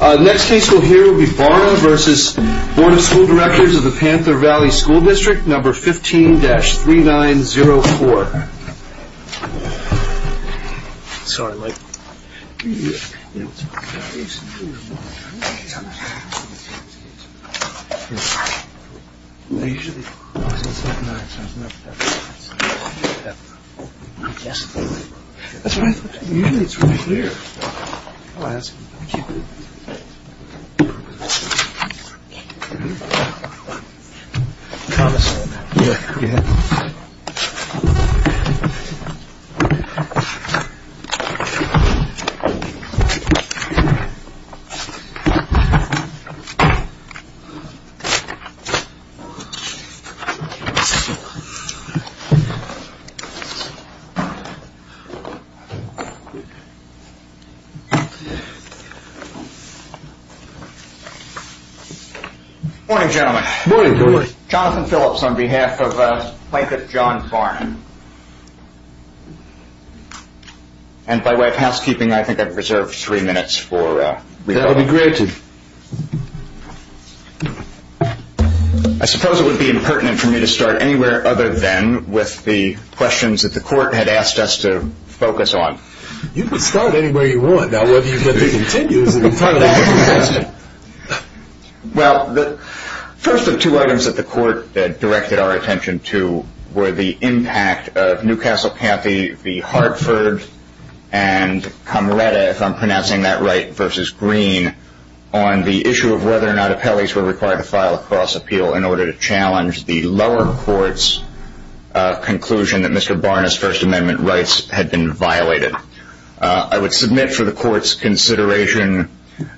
Next case we'll hear will be Barnav versus Board of School Directors of the Panther Valley School District, number 15-3904. Next case we'll hear will be Barnav versus Board of School Directors of the Panther Valley School District, number 15-3904. Good morning, gentlemen. Good morning, George. Jonathan Phillips on behalf of Plaintiff John Farnon. And by way of housekeeping, I think I've reserved three minutes for rebuttal. That would be great. I suppose it would be impertinent for me to start anywhere other than with the questions that the court had asked us to focus on. You can start anywhere you want. Now, whether you let me continue is in front of that question. Well, the first of two items that the court directed our attention to were the impact of Newcastle Cathy v. Hartford and Cameretta, if I'm pronouncing that right, versus Green, on the issue of whether or not appellees were required to file a cross-appeal in order to challenge the lower court's conclusion that Mr. Barnav's First Amendment rights had been violated. I would submit for the court's consideration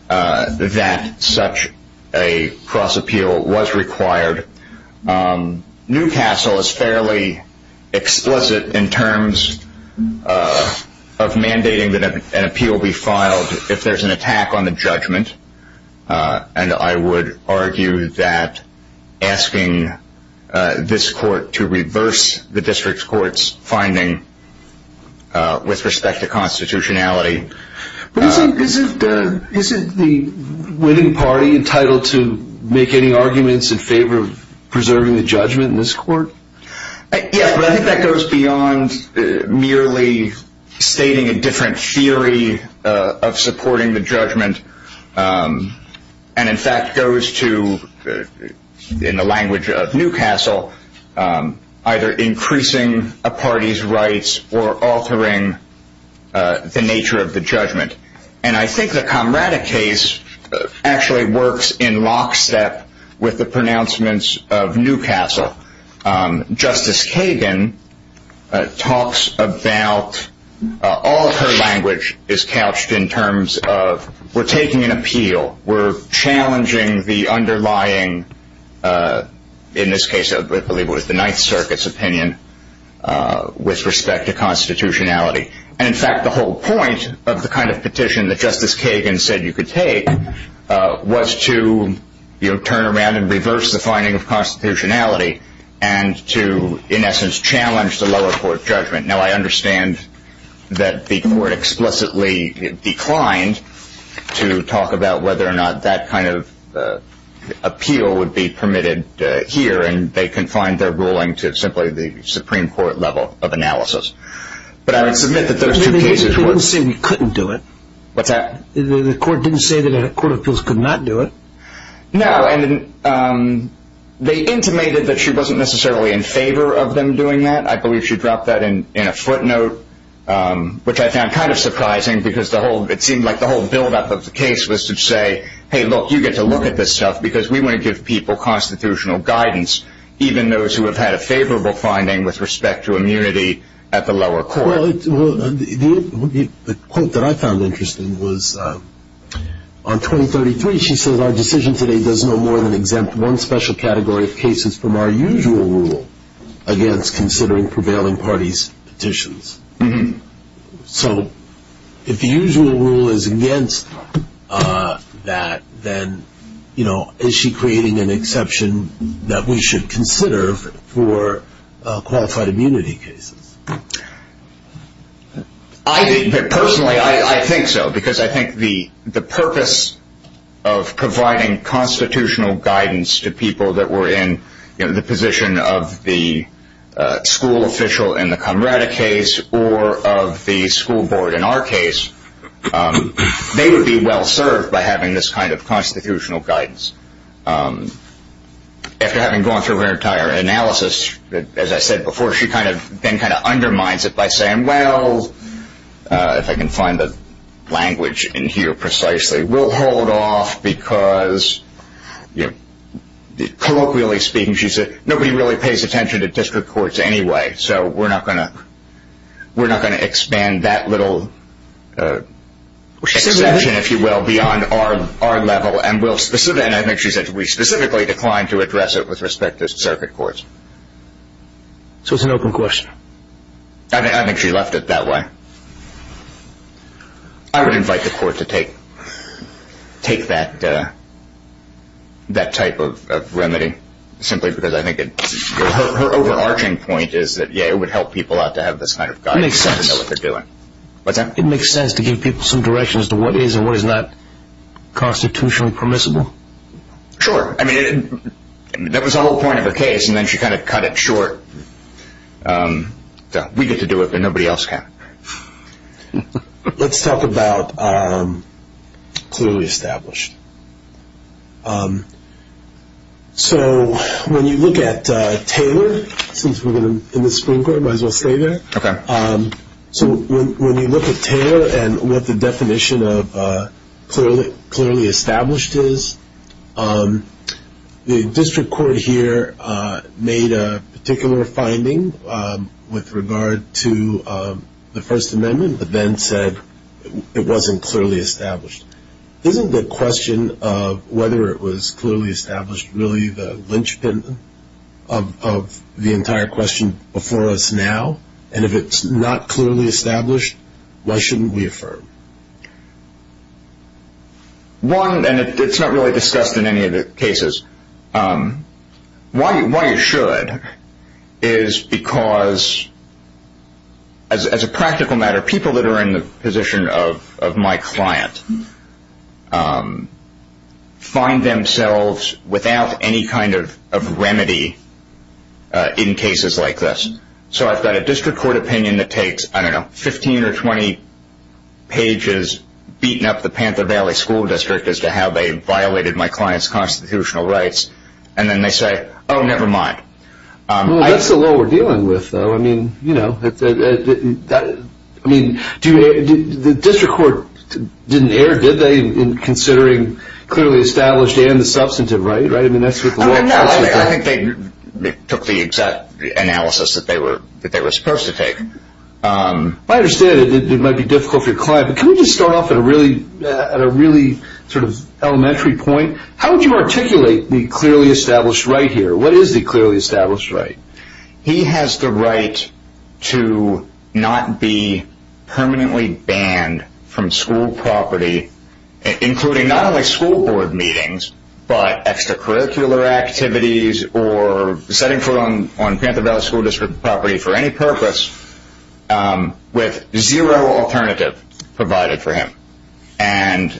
that such a cross-appeal was required. Newcastle is fairly explicit in terms of mandating that an appeal be filed if there's an attack on the judgment. And I would argue that asking this court to reverse the district court's finding with respect to constitutionality. But isn't the winning party entitled to make any arguments in favor of preserving the judgment in this court? Yeah, but I think that goes beyond merely stating a different theory of supporting the judgment. And in fact goes to, in the language of Newcastle, either increasing a party's rights or altering the nature of the judgment. And I think the Cameretta case actually works in lockstep with the pronouncements of Newcastle. Justice Kagan talks about, all of her language is couched in terms of, we're taking an appeal. We're challenging the underlying, in this case I believe it was the Ninth Circuit's opinion, with respect to constitutionality. And in fact the whole point of the kind of petition that Justice Kagan said you could take was to turn around and reverse the finding of constitutionality. And to, in essence, challenge the lower court's judgment. Now I understand that the court explicitly declined to talk about whether or not that kind of appeal would be permitted here. And they confined their ruling to simply the Supreme Court level of analysis. But I would submit that those two cases were... They didn't say we couldn't do it. What's that? The court didn't say that a court of appeals could not do it. No, and they intimated that she wasn't necessarily in favor of them doing that. I believe she dropped that in a footnote, which I found kind of surprising because it seemed like the whole buildup of the case was to say, hey look, you get to look at this stuff because we want to give people constitutional guidance, even those who have had a favorable finding with respect to immunity at the lower court. Well, the quote that I found interesting was on 2033 she says, our decision today does no more than exempt one special category of cases from our usual rule against considering prevailing parties' petitions. So, if the usual rule is against that, then is she creating an exception that we should consider for qualified immunity cases? Personally, I think so. Because I think the purpose of providing constitutional guidance to people that were in the position of the school official in the Camerata case or of the school board in our case, they would be well served by having this kind of constitutional guidance. After having gone through her entire analysis, as I said before, she then kind of undermines it by saying, well, if I can find the language in here precisely, we'll hold off because colloquially speaking, she said nobody really pays attention to district courts anyway, so we're not going to expand that little exception, if you will, beyond our level. And I think she said we specifically declined to address it with respect to circuit courts. So it's an open question. I think she left it that way. I would invite the court to take that type of remedy, simply because I think her overarching point is that it would help people out to have this kind of guidance. It makes sense. What's that? Constitutionally permissible? Sure. I mean, that was the whole point of the case, and then she kind of cut it short. We get to do it, but nobody else can. Let's talk about clearly established. So when you look at Taylor, since we're in the Supreme Court, might as well stay there. Okay. So when you look at Taylor and what the definition of clearly established is, the district court here made a particular finding with regard to the First Amendment, but then said it wasn't clearly established. Isn't the question of whether it was clearly established really the linchpin of the entire question before us now? And if it's not clearly established, why shouldn't we affirm? One, and it's not really discussed in any of the cases, why you should is because, as a practical matter, people that are in the position of my client find themselves without any kind of remedy in cases like this. So I've got a district court opinion that takes, I don't know, 15 or 20 pages, beating up the Panther Valley School District as to how they violated my client's constitutional rights, and then they say, oh, never mind. Well, that's the law we're dealing with, though. The district court didn't err, did they, in considering clearly established and the substantive right? No, I think they took the exact analysis that they were supposed to take. I understand it might be difficult for your client, but can we just start off at a really sort of elementary point? How would you articulate the clearly established right here? What is the clearly established right? He has the right to not be permanently banned from school property, including not only school board meetings, but extracurricular activities or setting foot on Panther Valley School District property for any purpose, with zero alternative provided for him. And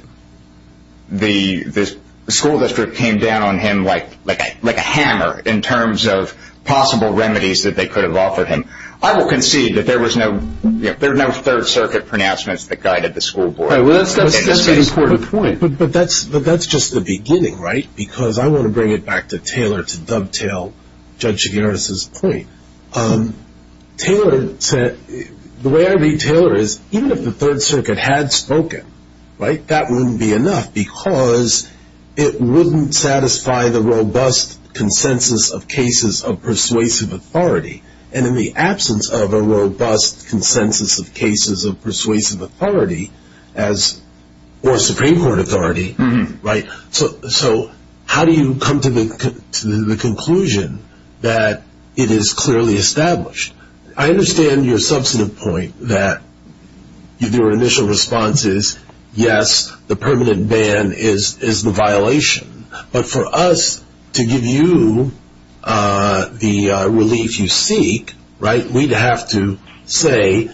the school district came down on him like a hammer in terms of possible remedies that they could have offered him. I will concede that there were no Third Circuit pronouncements that guided the school board. Right, well, that's an important point. But that's just the beginning, right? Because I want to bring it back to Taylor to dovetail Judge Shigeru's point. Taylor said, the way I read Taylor is, even if the Third Circuit had spoken, right, that wouldn't be enough, because it wouldn't satisfy the robust consensus of cases of persuasive authority. And in the absence of a robust consensus of cases of persuasive authority, or Supreme Court authority, right, so how do you come to the conclusion that it is clearly established? I understand your substantive point that your initial response is, yes, the permanent ban is the violation. But for us to give you the relief you seek, right, we'd have to say,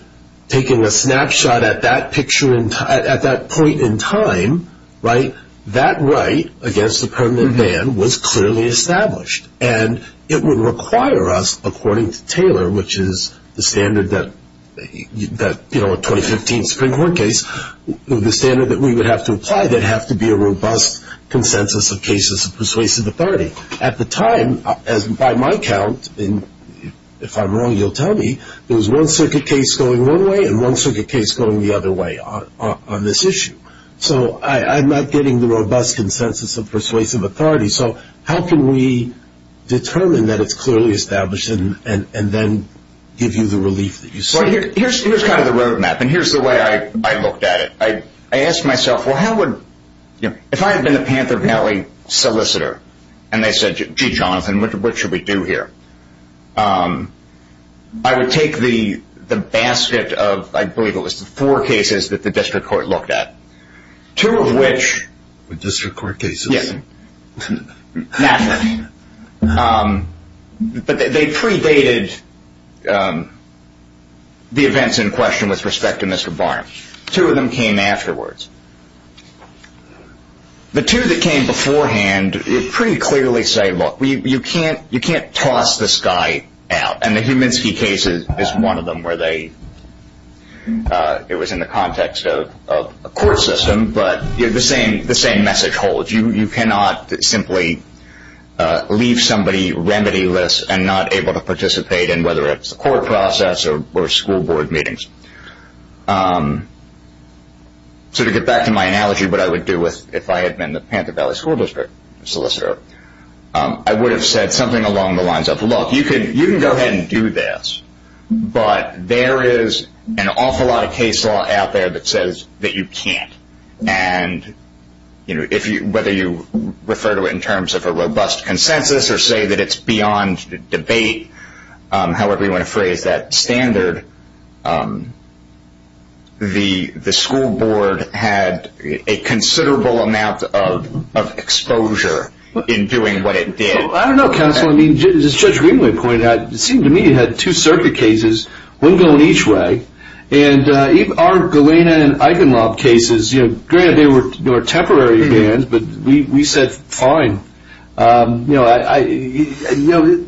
taking a snapshot at that point in time, right, that right against the permanent ban was clearly established. And it would require us, according to Taylor, which is the standard that, you know, a 2015 Supreme Court case, the standard that we would have to apply, there'd have to be a robust consensus of cases of persuasive authority. At the time, by my count, if I'm wrong, you'll tell me, there was one circuit case going one way and one circuit case going the other way on this issue. So I'm not getting the robust consensus of persuasive authority. So how can we determine that it's clearly established and then give you the relief that you seek? Here's kind of the road map, and here's the way I looked at it. I asked myself, well, how would, you know, if I had been a Panther Valley solicitor, and they said, gee, Jonathan, what should we do here? I would take the basket of, I believe it was the four cases that the district court looked at, two of which. The district court cases? Yes. Naturally. But they predated the events in question with respect to Mr. Barnum. Two of them came afterwards. The two that came beforehand pretty clearly say, look, you can't toss this guy out. And the Heminsky case is one of them where they, it was in the context of a court system, but the same message holds. You cannot simply leave somebody remedyless and not able to participate in whether it's the court process or school board meetings. So to get back to my analogy, what I would do if I had been the Panther Valley school district solicitor, I would have said something along the lines of, look, you can go ahead and do this, but there is an awful lot of case law out there that says that you can't. And, you know, whether you refer to it in terms of a robust consensus or say that it's beyond debate, however you want to phrase that standard, the school board had a considerable amount of exposure in doing what it did. I don't know, counsel. I mean, as Judge Greenway pointed out, it seemed to me it had two circuit cases, one going each way. And even our Galena and Eigenlob cases, you know, granted they were temporary bans, but we said fine. You know,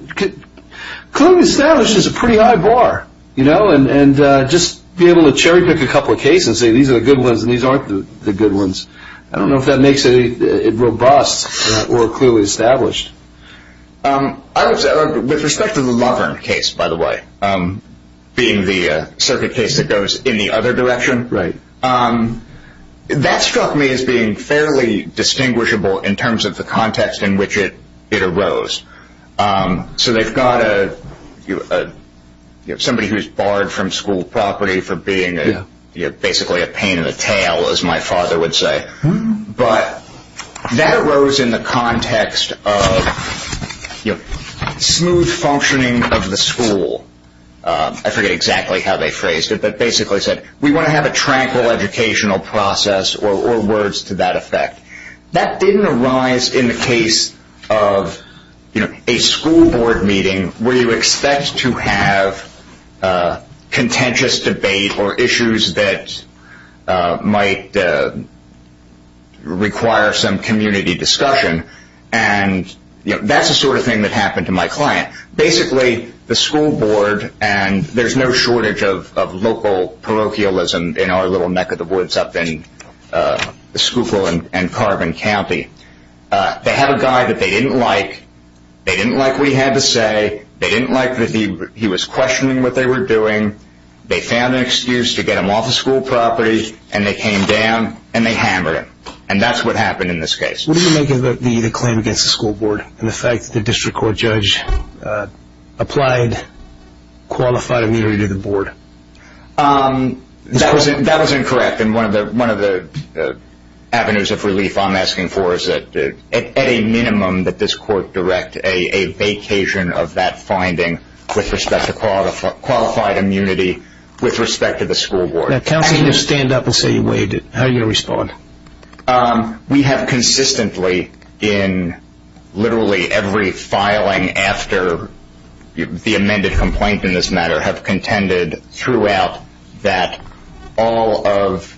clearly established is a pretty high bar, you know, and just be able to cherry pick a couple of cases and say these are the good ones and these aren't the good ones. I don't know if that makes it robust or clearly established. With respect to the Lovern case, by the way, being the circuit case that goes in the other direction, that struck me as being fairly distinguishable in terms of the context in which it arose. So they've got somebody who's barred from school property for being basically a pain in the tail, as my father would say. But that arose in the context of smooth functioning of the school. I forget exactly how they phrased it, but basically said we want to have a tranquil educational process or words to that effect. That didn't arise in the case of, you know, a school board meeting where you expect to have contentious debate or issues that might require some community discussion. And, you know, that's the sort of thing that happened to my client. Basically, the school board, and there's no shortage of local parochialism in our little neck of the woods up in Schuylkill and Carbon County. They had a guy that they didn't like. They didn't like what he had to say. They didn't like that he was questioning what they were doing. They found an excuse to get him off of school property, and they came down, and they hammered him. And that's what happened in this case. What do you make of the claim against the school board and the fact that the district court judge applied qualified immunity to the board? That was incorrect. And one of the avenues of relief I'm asking for is that at a minimum that this court direct a vacation of that finding with respect to qualified immunity with respect to the school board. Now, counsel, you stand up and say you waived it. How are you going to respond? We have consistently, in literally every filing after the amended complaint in this matter, have contended throughout that all of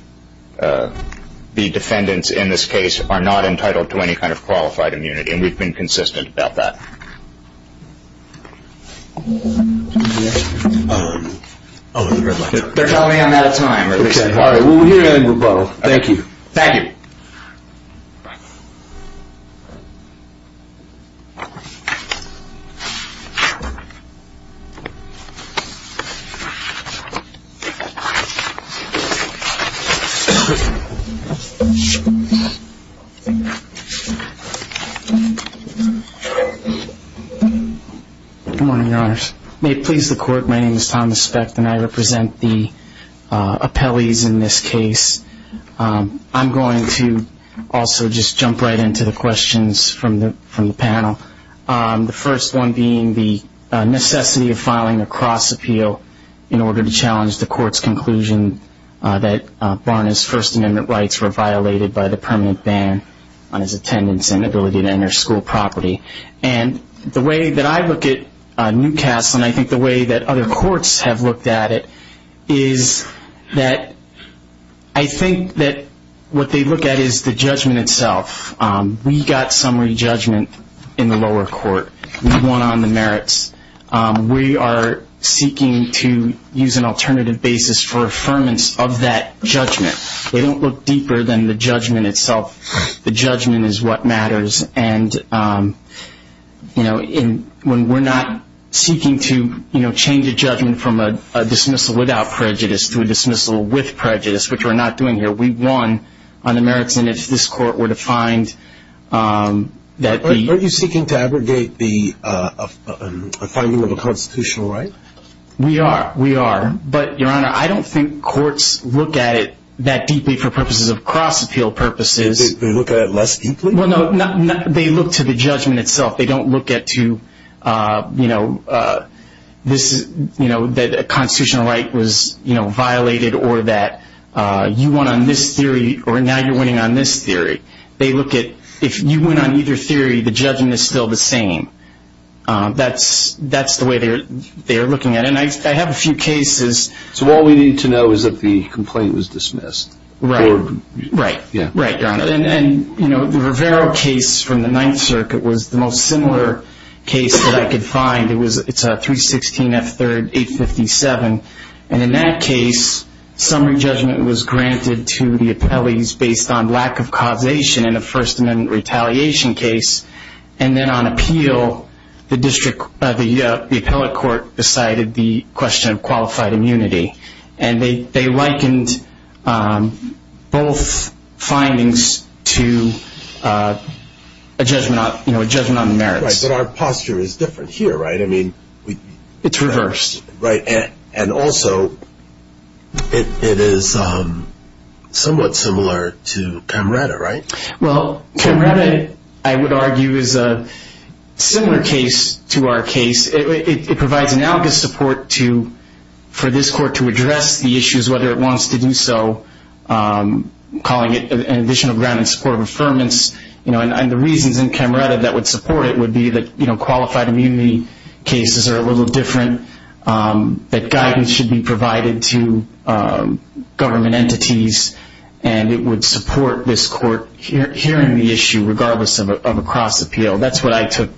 the defendants in this case are not entitled to any kind of qualified immunity, and we've been consistent about that. They're telling me I'm out of time. All right. We'll hear that in rebuttal. Thank you. Thank you. Good morning, Your Honors. May it please the Court, my name is Thomas Specht, and I represent the appellees in this case. I'm going to also just jump right into the questions from the panel, the first one being the necessity of filing a cross-appeal in order to challenge the Court's conclusion that Barna's First Amendment rights were violated by the permanent ban on his attendance and ability to enter school property. And the way that I look at Newcastle, and I think the way that other courts have looked at it, is that I think that what they look at is the judgment itself. We got summary judgment in the lower court. We won on the merits. We are seeking to use an alternative basis for affirmance of that judgment. They don't look deeper than the judgment itself. The judgment is what matters. And when we're not seeking to change a judgment from a dismissal without prejudice to a dismissal with prejudice, which we're not doing here, we won on the merits. And if this Court were to find that the- Are you seeking to abrogate the finding of a constitutional right? We are, we are. But, Your Honor, I don't think courts look at it that deeply for purposes of cross-appeal purposes. They look at it less deeply? Well, no, they look to the judgment itself. They don't look at to, you know, that a constitutional right was violated or that you won on this theory or now you're winning on this theory. They look at if you win on either theory, the judgment is still the same. That's the way they're looking at it. And I have a few cases- So all we need to know is that the complaint was dismissed. Right. Right, Your Honor. And, you know, the Rivero case from the Ninth Circuit was the most similar case that I could find. It's a 316 F. 3rd 857. And in that case, summary judgment was granted to the appellees based on lack of causation in a First Amendment retaliation case. And then on appeal, the district, the appellate court decided the question of qualified immunity. And they likened both findings to a judgment on the merits. Right, but our posture is different here, right? I mean- It's reversed. Right. And also it is somewhat similar to Camretta, right? Well, Camretta, I would argue, is a similar case to our case. It provides analogous support for this court to address the issues, whether it wants to do so, calling it an additional grant in support of affirmance. And the reasons in Camretta that would support it would be that qualified immunity cases are a little different, that guidance should be provided to government entities, and it would support this court hearing the issue regardless of a cross-appeal. That's what I took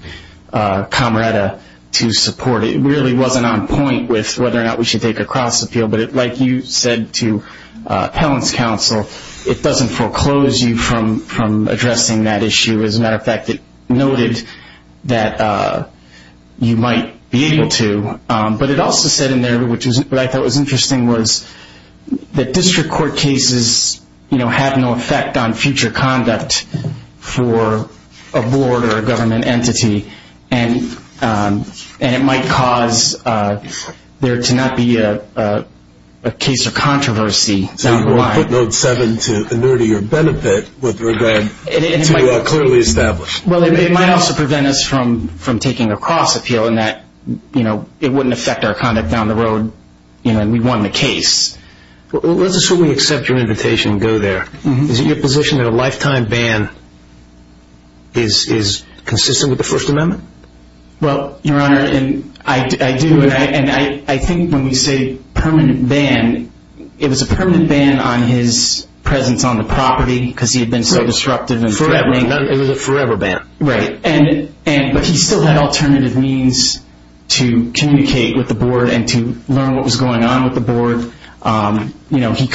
Camretta to support. It really wasn't on point with whether or not we should take a cross-appeal, but like you said to appellant's counsel, it doesn't foreclose you from addressing that issue. As a matter of fact, it noted that you might be able to. But it also said in there, which I thought was interesting, was that district court cases have no effect on future conduct for a board or a government entity, and it might cause there to not be a case of controversy down the line. So you put note seven to inertia benefit with regard to clearly established. Well, it might also prevent us from taking a cross-appeal in that it wouldn't affect our conduct down the road, and we won the case. Let's assume we accept your invitation and go there. Is it your position that a lifetime ban is consistent with the First Amendment? Well, Your Honor, I do, and I think when we say permanent ban, it was a permanent ban on his presence on the property because he had been so disruptive. It was a forever ban. Right, but he still had alternative means to communicate with the board and to learn what was going on with the board. He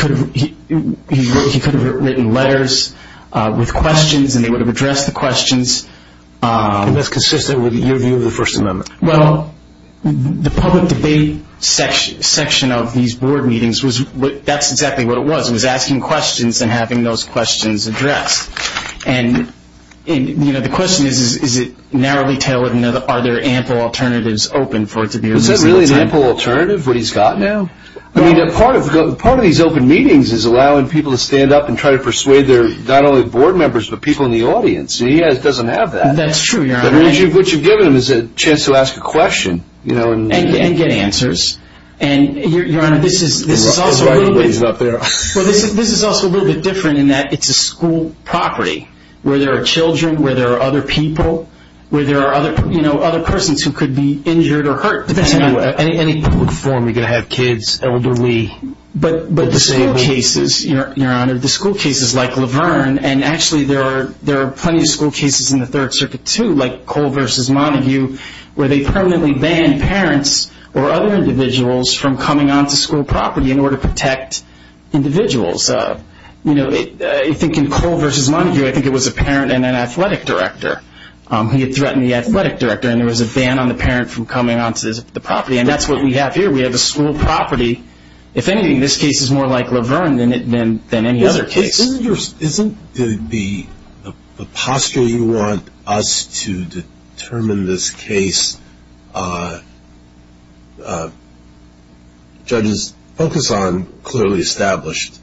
could have written letters with questions, and they would have addressed the questions. And that's consistent with your view of the First Amendment? Well, the public debate section of these board meetings, that's exactly what it was. It was asking questions and having those questions addressed. And the question is, is it narrowly tailored? Are there ample alternatives open for it to be a reasonable time? Is that really an ample alternative, what he's got now? I mean, part of these open meetings is allowing people to stand up and try to persuade their not only board members but people in the audience. He doesn't have that. That's true, Your Honor. What you've given him is a chance to ask a question. And get answers. Your Honor, this is also a little bit different in that it's a school property where there are children, where there are other people, where there are other persons who could be injured or hurt. Any public forum, you're going to have kids, elderly. But the school cases, Your Honor, the school cases like Laverne, and actually there are plenty of school cases in the Third Circuit too, like Cole v. Montague, where they permanently ban parents or other individuals from coming onto school property in order to protect individuals. You know, I think in Cole v. Montague, I think it was a parent and an athletic director. He had threatened the athletic director, and there was a ban on the parent from coming onto the property. And that's what we have here. We have a school property. If anything, this case is more like Laverne than any other case. Isn't the posture you want us to determine this case, judges, focus on clearly established?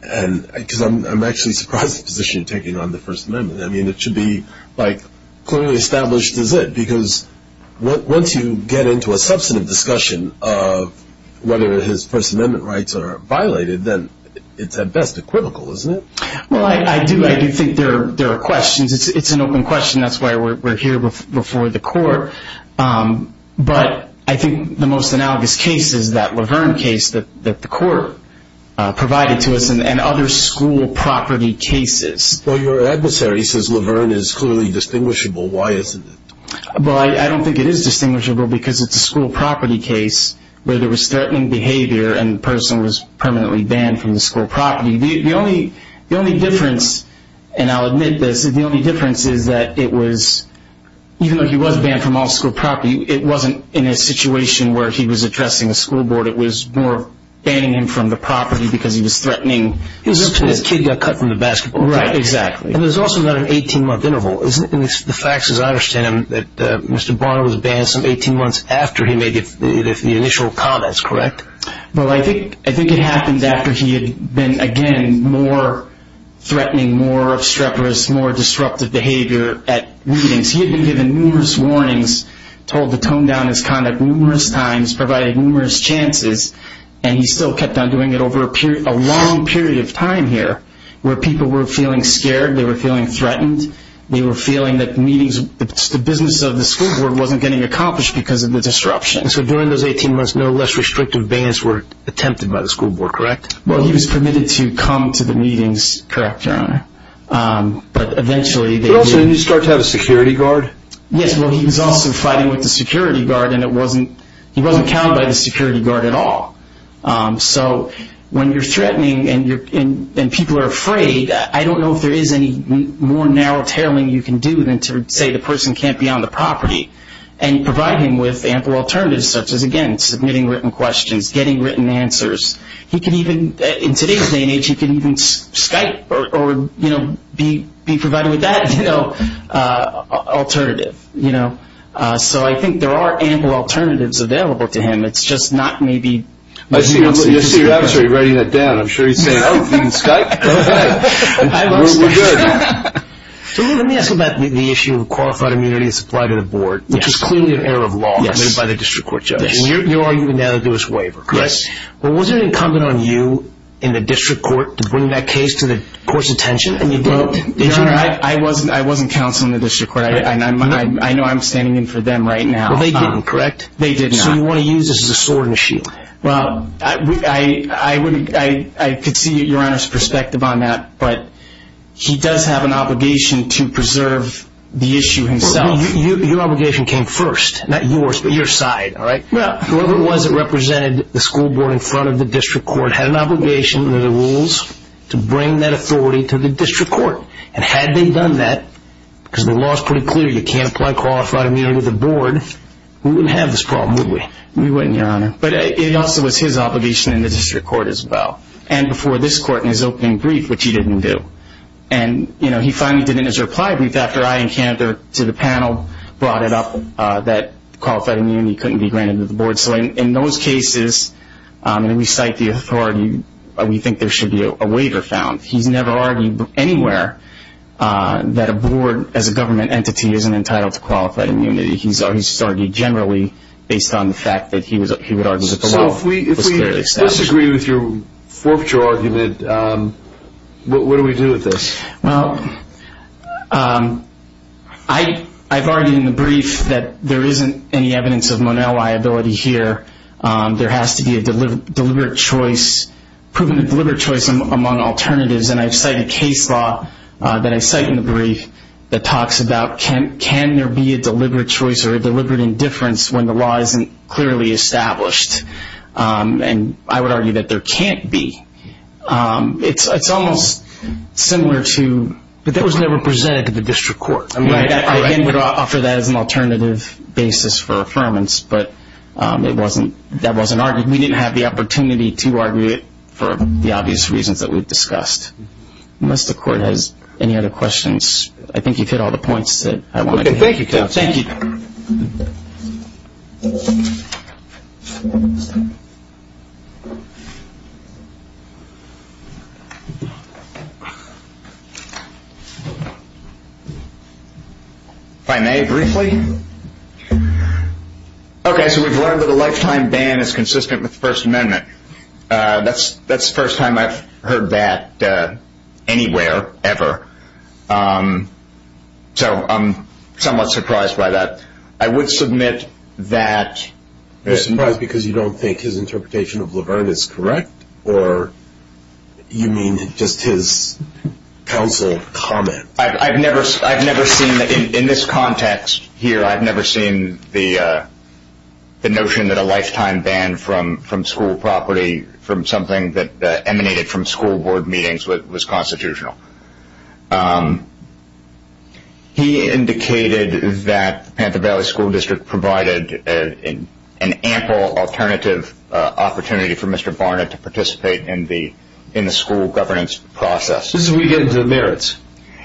Because I'm actually surprised at the position you're taking on the First Amendment. I mean, it should be like clearly established is it? Because once you get into a substantive discussion of whether his First Amendment rights are violated, then it's at best equivocal, isn't it? Well, I do think there are questions. It's an open question. That's why we're here before the court. But I think the most analogous case is that Laverne case that the court provided to us and other school property cases. Well, your adversary says Laverne is clearly distinguishable. Why isn't it? Well, I don't think it is distinguishable because it's a school property case where there was threatening behavior and the person was permanently banned from the school property. The only difference, and I'll admit this, the only difference is that even though he was banned from all school property, it wasn't in a situation where he was addressing a school board. It was more banning him from the property because he was threatening. He was just when his kid got cut from the basketball court. Right, exactly. And there's also not an 18-month interval. The fact is I understand that Mr. Barnum was banned some 18 months after he made the initial comments, correct? Well, I think it happened after he had been, again, more threatening, more obstreperous, more disruptive behavior at meetings. He had been given numerous warnings, told to tone down his conduct numerous times, provided numerous chances, and he still kept on doing it over a long period of time here where people were feeling scared, they were feeling threatened, they were feeling that meetings, the business of the school board, wasn't getting accomplished because of the disruption. So during those 18 months, no less restrictive bans were attempted by the school board, correct? Well, he was permitted to come to the meetings, correct, Your Honor, but eventually they did. But also, didn't he start to have a security guard? Yes, well, he was also fighting with the security guard and he wasn't counted by the security guard at all. So when you're threatening and people are afraid, I don't know if there is any more narrow tailing you can do than to say the person can't be on the property and provide him with ample alternatives such as, again, submitting written questions, getting written answers. He can even, in today's day and age, he can even Skype or be provided with that alternative. So I think there are ample alternatives available to him. It's just not maybe... We're good. Let me ask you about the issue of qualified immunity and supply to the board, which is clearly an error of law made by the district court judges. You're arguing that there was a waiver, correct? Yes. Well, was it incumbent on you in the district court to bring that case to the court's attention? Your Honor, I wasn't counseling the district court. I know I'm standing in for them right now. Well, they didn't, correct? They did not. So you want to use this as a sword and a shield? Well, I could see Your Honor's perspective on that, but he does have an obligation to preserve the issue himself. Your obligation came first, not yours, but your side. Whoever it was that represented the school board in front of the district court had an obligation under the rules to bring that authority to the district court. And had they done that, because the law is pretty clear, you can't apply qualified immunity to the board, we wouldn't have this problem, would we? We wouldn't, Your Honor. But it also was his obligation in the district court as well, and before this court in his opening brief, which he didn't do. And, you know, he finally did in his reply brief after I in Canada to the panel brought it up that qualified immunity couldn't be granted to the board. So in those cases, when we cite the authority, we think there should be a waiver found. He's never argued anywhere that a board as a government entity isn't entitled to qualified immunity. He's argued generally based on the fact that he would argue that the law was clearly established. So if we disagree with your forfeiture argument, what do we do with this? Well, I've argued in the brief that there isn't any evidence of Monell liability here. There has to be a deliberate choice, proven deliberate choice among alternatives, and I've cited case law that I cite in the brief that talks about can there be a deliberate choice or a deliberate indifference when the law isn't clearly established. And I would argue that there can't be. It's almost similar to... But that was never presented to the district court. I again would offer that as an alternative basis for affirmance, but that wasn't argued. We didn't have the opportunity to argue it for the obvious reasons that we've discussed. Unless the court has any other questions. I think you've hit all the points that I want to make. Okay, thank you. If I may briefly... Okay, so we've learned that a lifetime ban is consistent with the First Amendment. That's the first time I've heard that anywhere ever. So I'm somewhat surprised by that. I would submit that... You're surprised because you don't think his interpretation of Laverne is correct? Or you mean just his counsel comment? In this context here, I've never seen the notion that a lifetime ban from school property, from something that emanated from school board meetings, was constitutional. He indicated that the Panther Valley School District provided an ample alternative opportunity for Mr. Barnett to participate in the school governance process. This is where you get into the merits.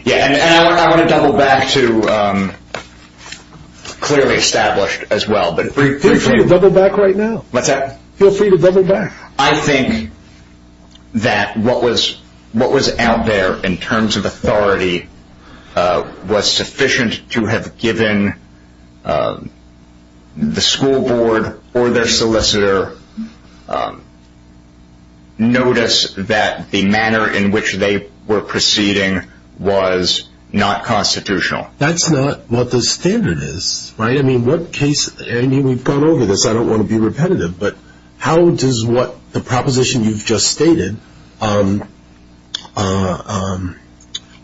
Yeah, and I want to double back to clearly established as well... Feel free to double back right now. What's that? Feel free to double back. I think that what was out there in terms of authority was sufficient to have given the school board or their solicitor notice that the manner in which they were proceeding was not constitutional. That's not what the standard is, right? I mean, we've gone over this. But how does what the proposition you've just stated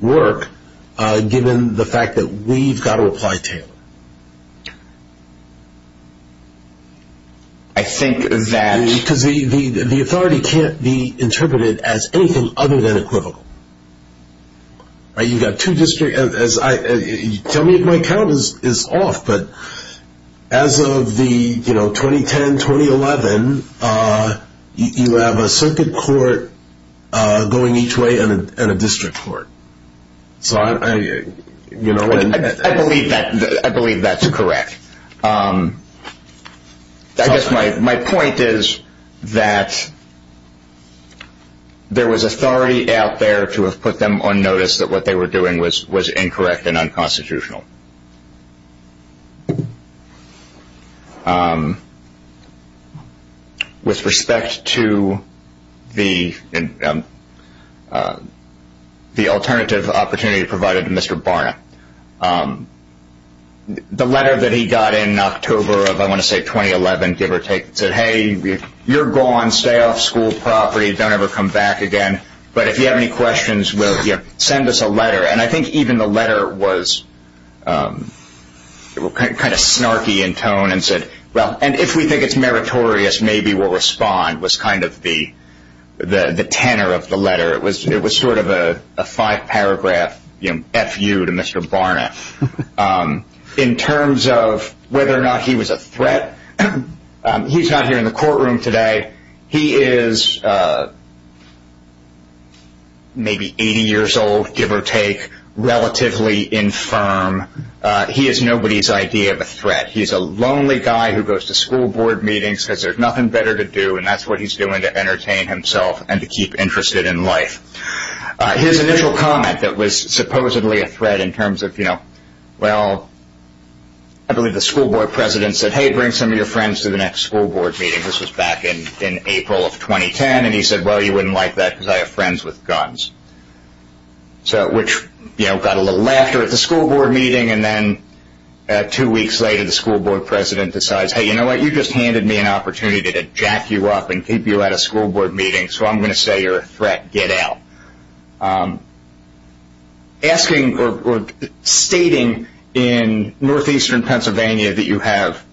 work, given the fact that we've got to apply Taylor? I think that... Because the authority can't be interpreted as anything other than equivocal. You've got two districts... Tell me if my count is off, but as of 2010, 2011, you have a circuit court going each way and a district court. I believe that's correct. I guess my point is that there was authority out there to have put them on notice that what they were doing was incorrect and unconstitutional. With respect to the alternative opportunity provided to Mr. Barna, the letter that he got in October of, I want to say, 2011, give or take, said, Hey, you're gone. Stay off school property. Don't ever come back again. But if you have any questions, send us a letter. And I think even the letter was kind of snarky in tone and said, Well, and if we think it's meritorious, maybe we'll respond, was kind of the tenor of the letter. It was sort of a five-paragraph F.U. to Mr. Barna. In terms of whether or not he was a threat, he's not here in the courtroom today. He is maybe 80 years old, give or take, relatively infirm. He is nobody's idea of a threat. He's a lonely guy who goes to school board meetings, says there's nothing better to do, and that's what he's doing to entertain himself and to keep interested in life. His initial comment that was supposedly a threat in terms of, you know, well, I believe the school board president said, Hey, bring some of your friends to the next school board meeting. This was back in April of 2010. And he said, Well, you wouldn't like that because I have friends with guns. So which, you know, got a little laughter at the school board meeting. And then two weeks later, the school board president decides, Hey, you know what? You just handed me an opportunity to jack you up and keep you at a school board meeting, so I'm going to say you're a threat. Get out. Asking or stating in northeastern Pennsylvania that you have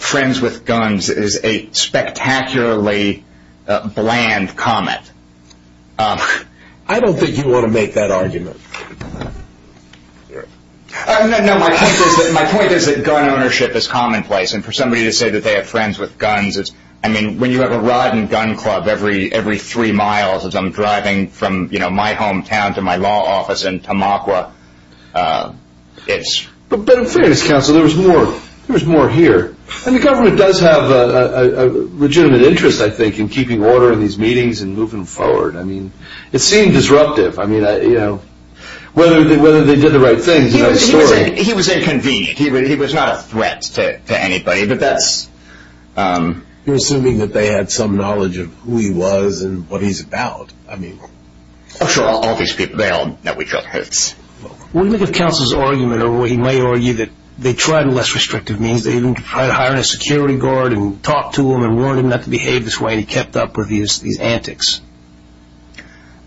friends with guns is a spectacularly bland comment. I don't think you want to make that argument. No, my point is that gun ownership is commonplace. And for somebody to say that they have friends with guns is, I mean, when you have a rod and gun club every three miles as I'm driving from, you know, my hometown to my law office in Tamaqua, it's. But in fairness, counsel, there was more here. And the government does have a legitimate interest, I think, in keeping order in these meetings and moving forward. I mean, it seemed disruptive. I mean, you know, whether they did the right thing. He was inconvenient. He was not a threat to anybody. But that's. You're assuming that they had some knowledge of who he was and what he's about. I mean. Oh, sure. All these people. They all know each other. What do you think of counsel's argument, or he may argue, that they tried less restrictive means. They even tried hiring a security guard and talked to him and warned him not to behave this way. He kept up with these antics.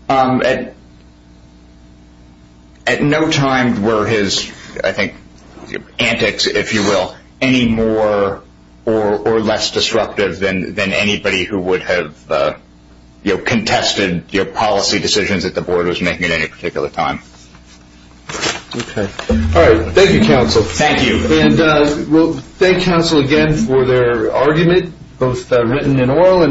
At. At no time were his, I think, antics, if you will, any more or less disruptive than than anybody who would have contested your policy decisions that the board was making at any particular time. All right. Thank you, counsel. Thank you. And we'll thank counsel again for their argument, both written and oral.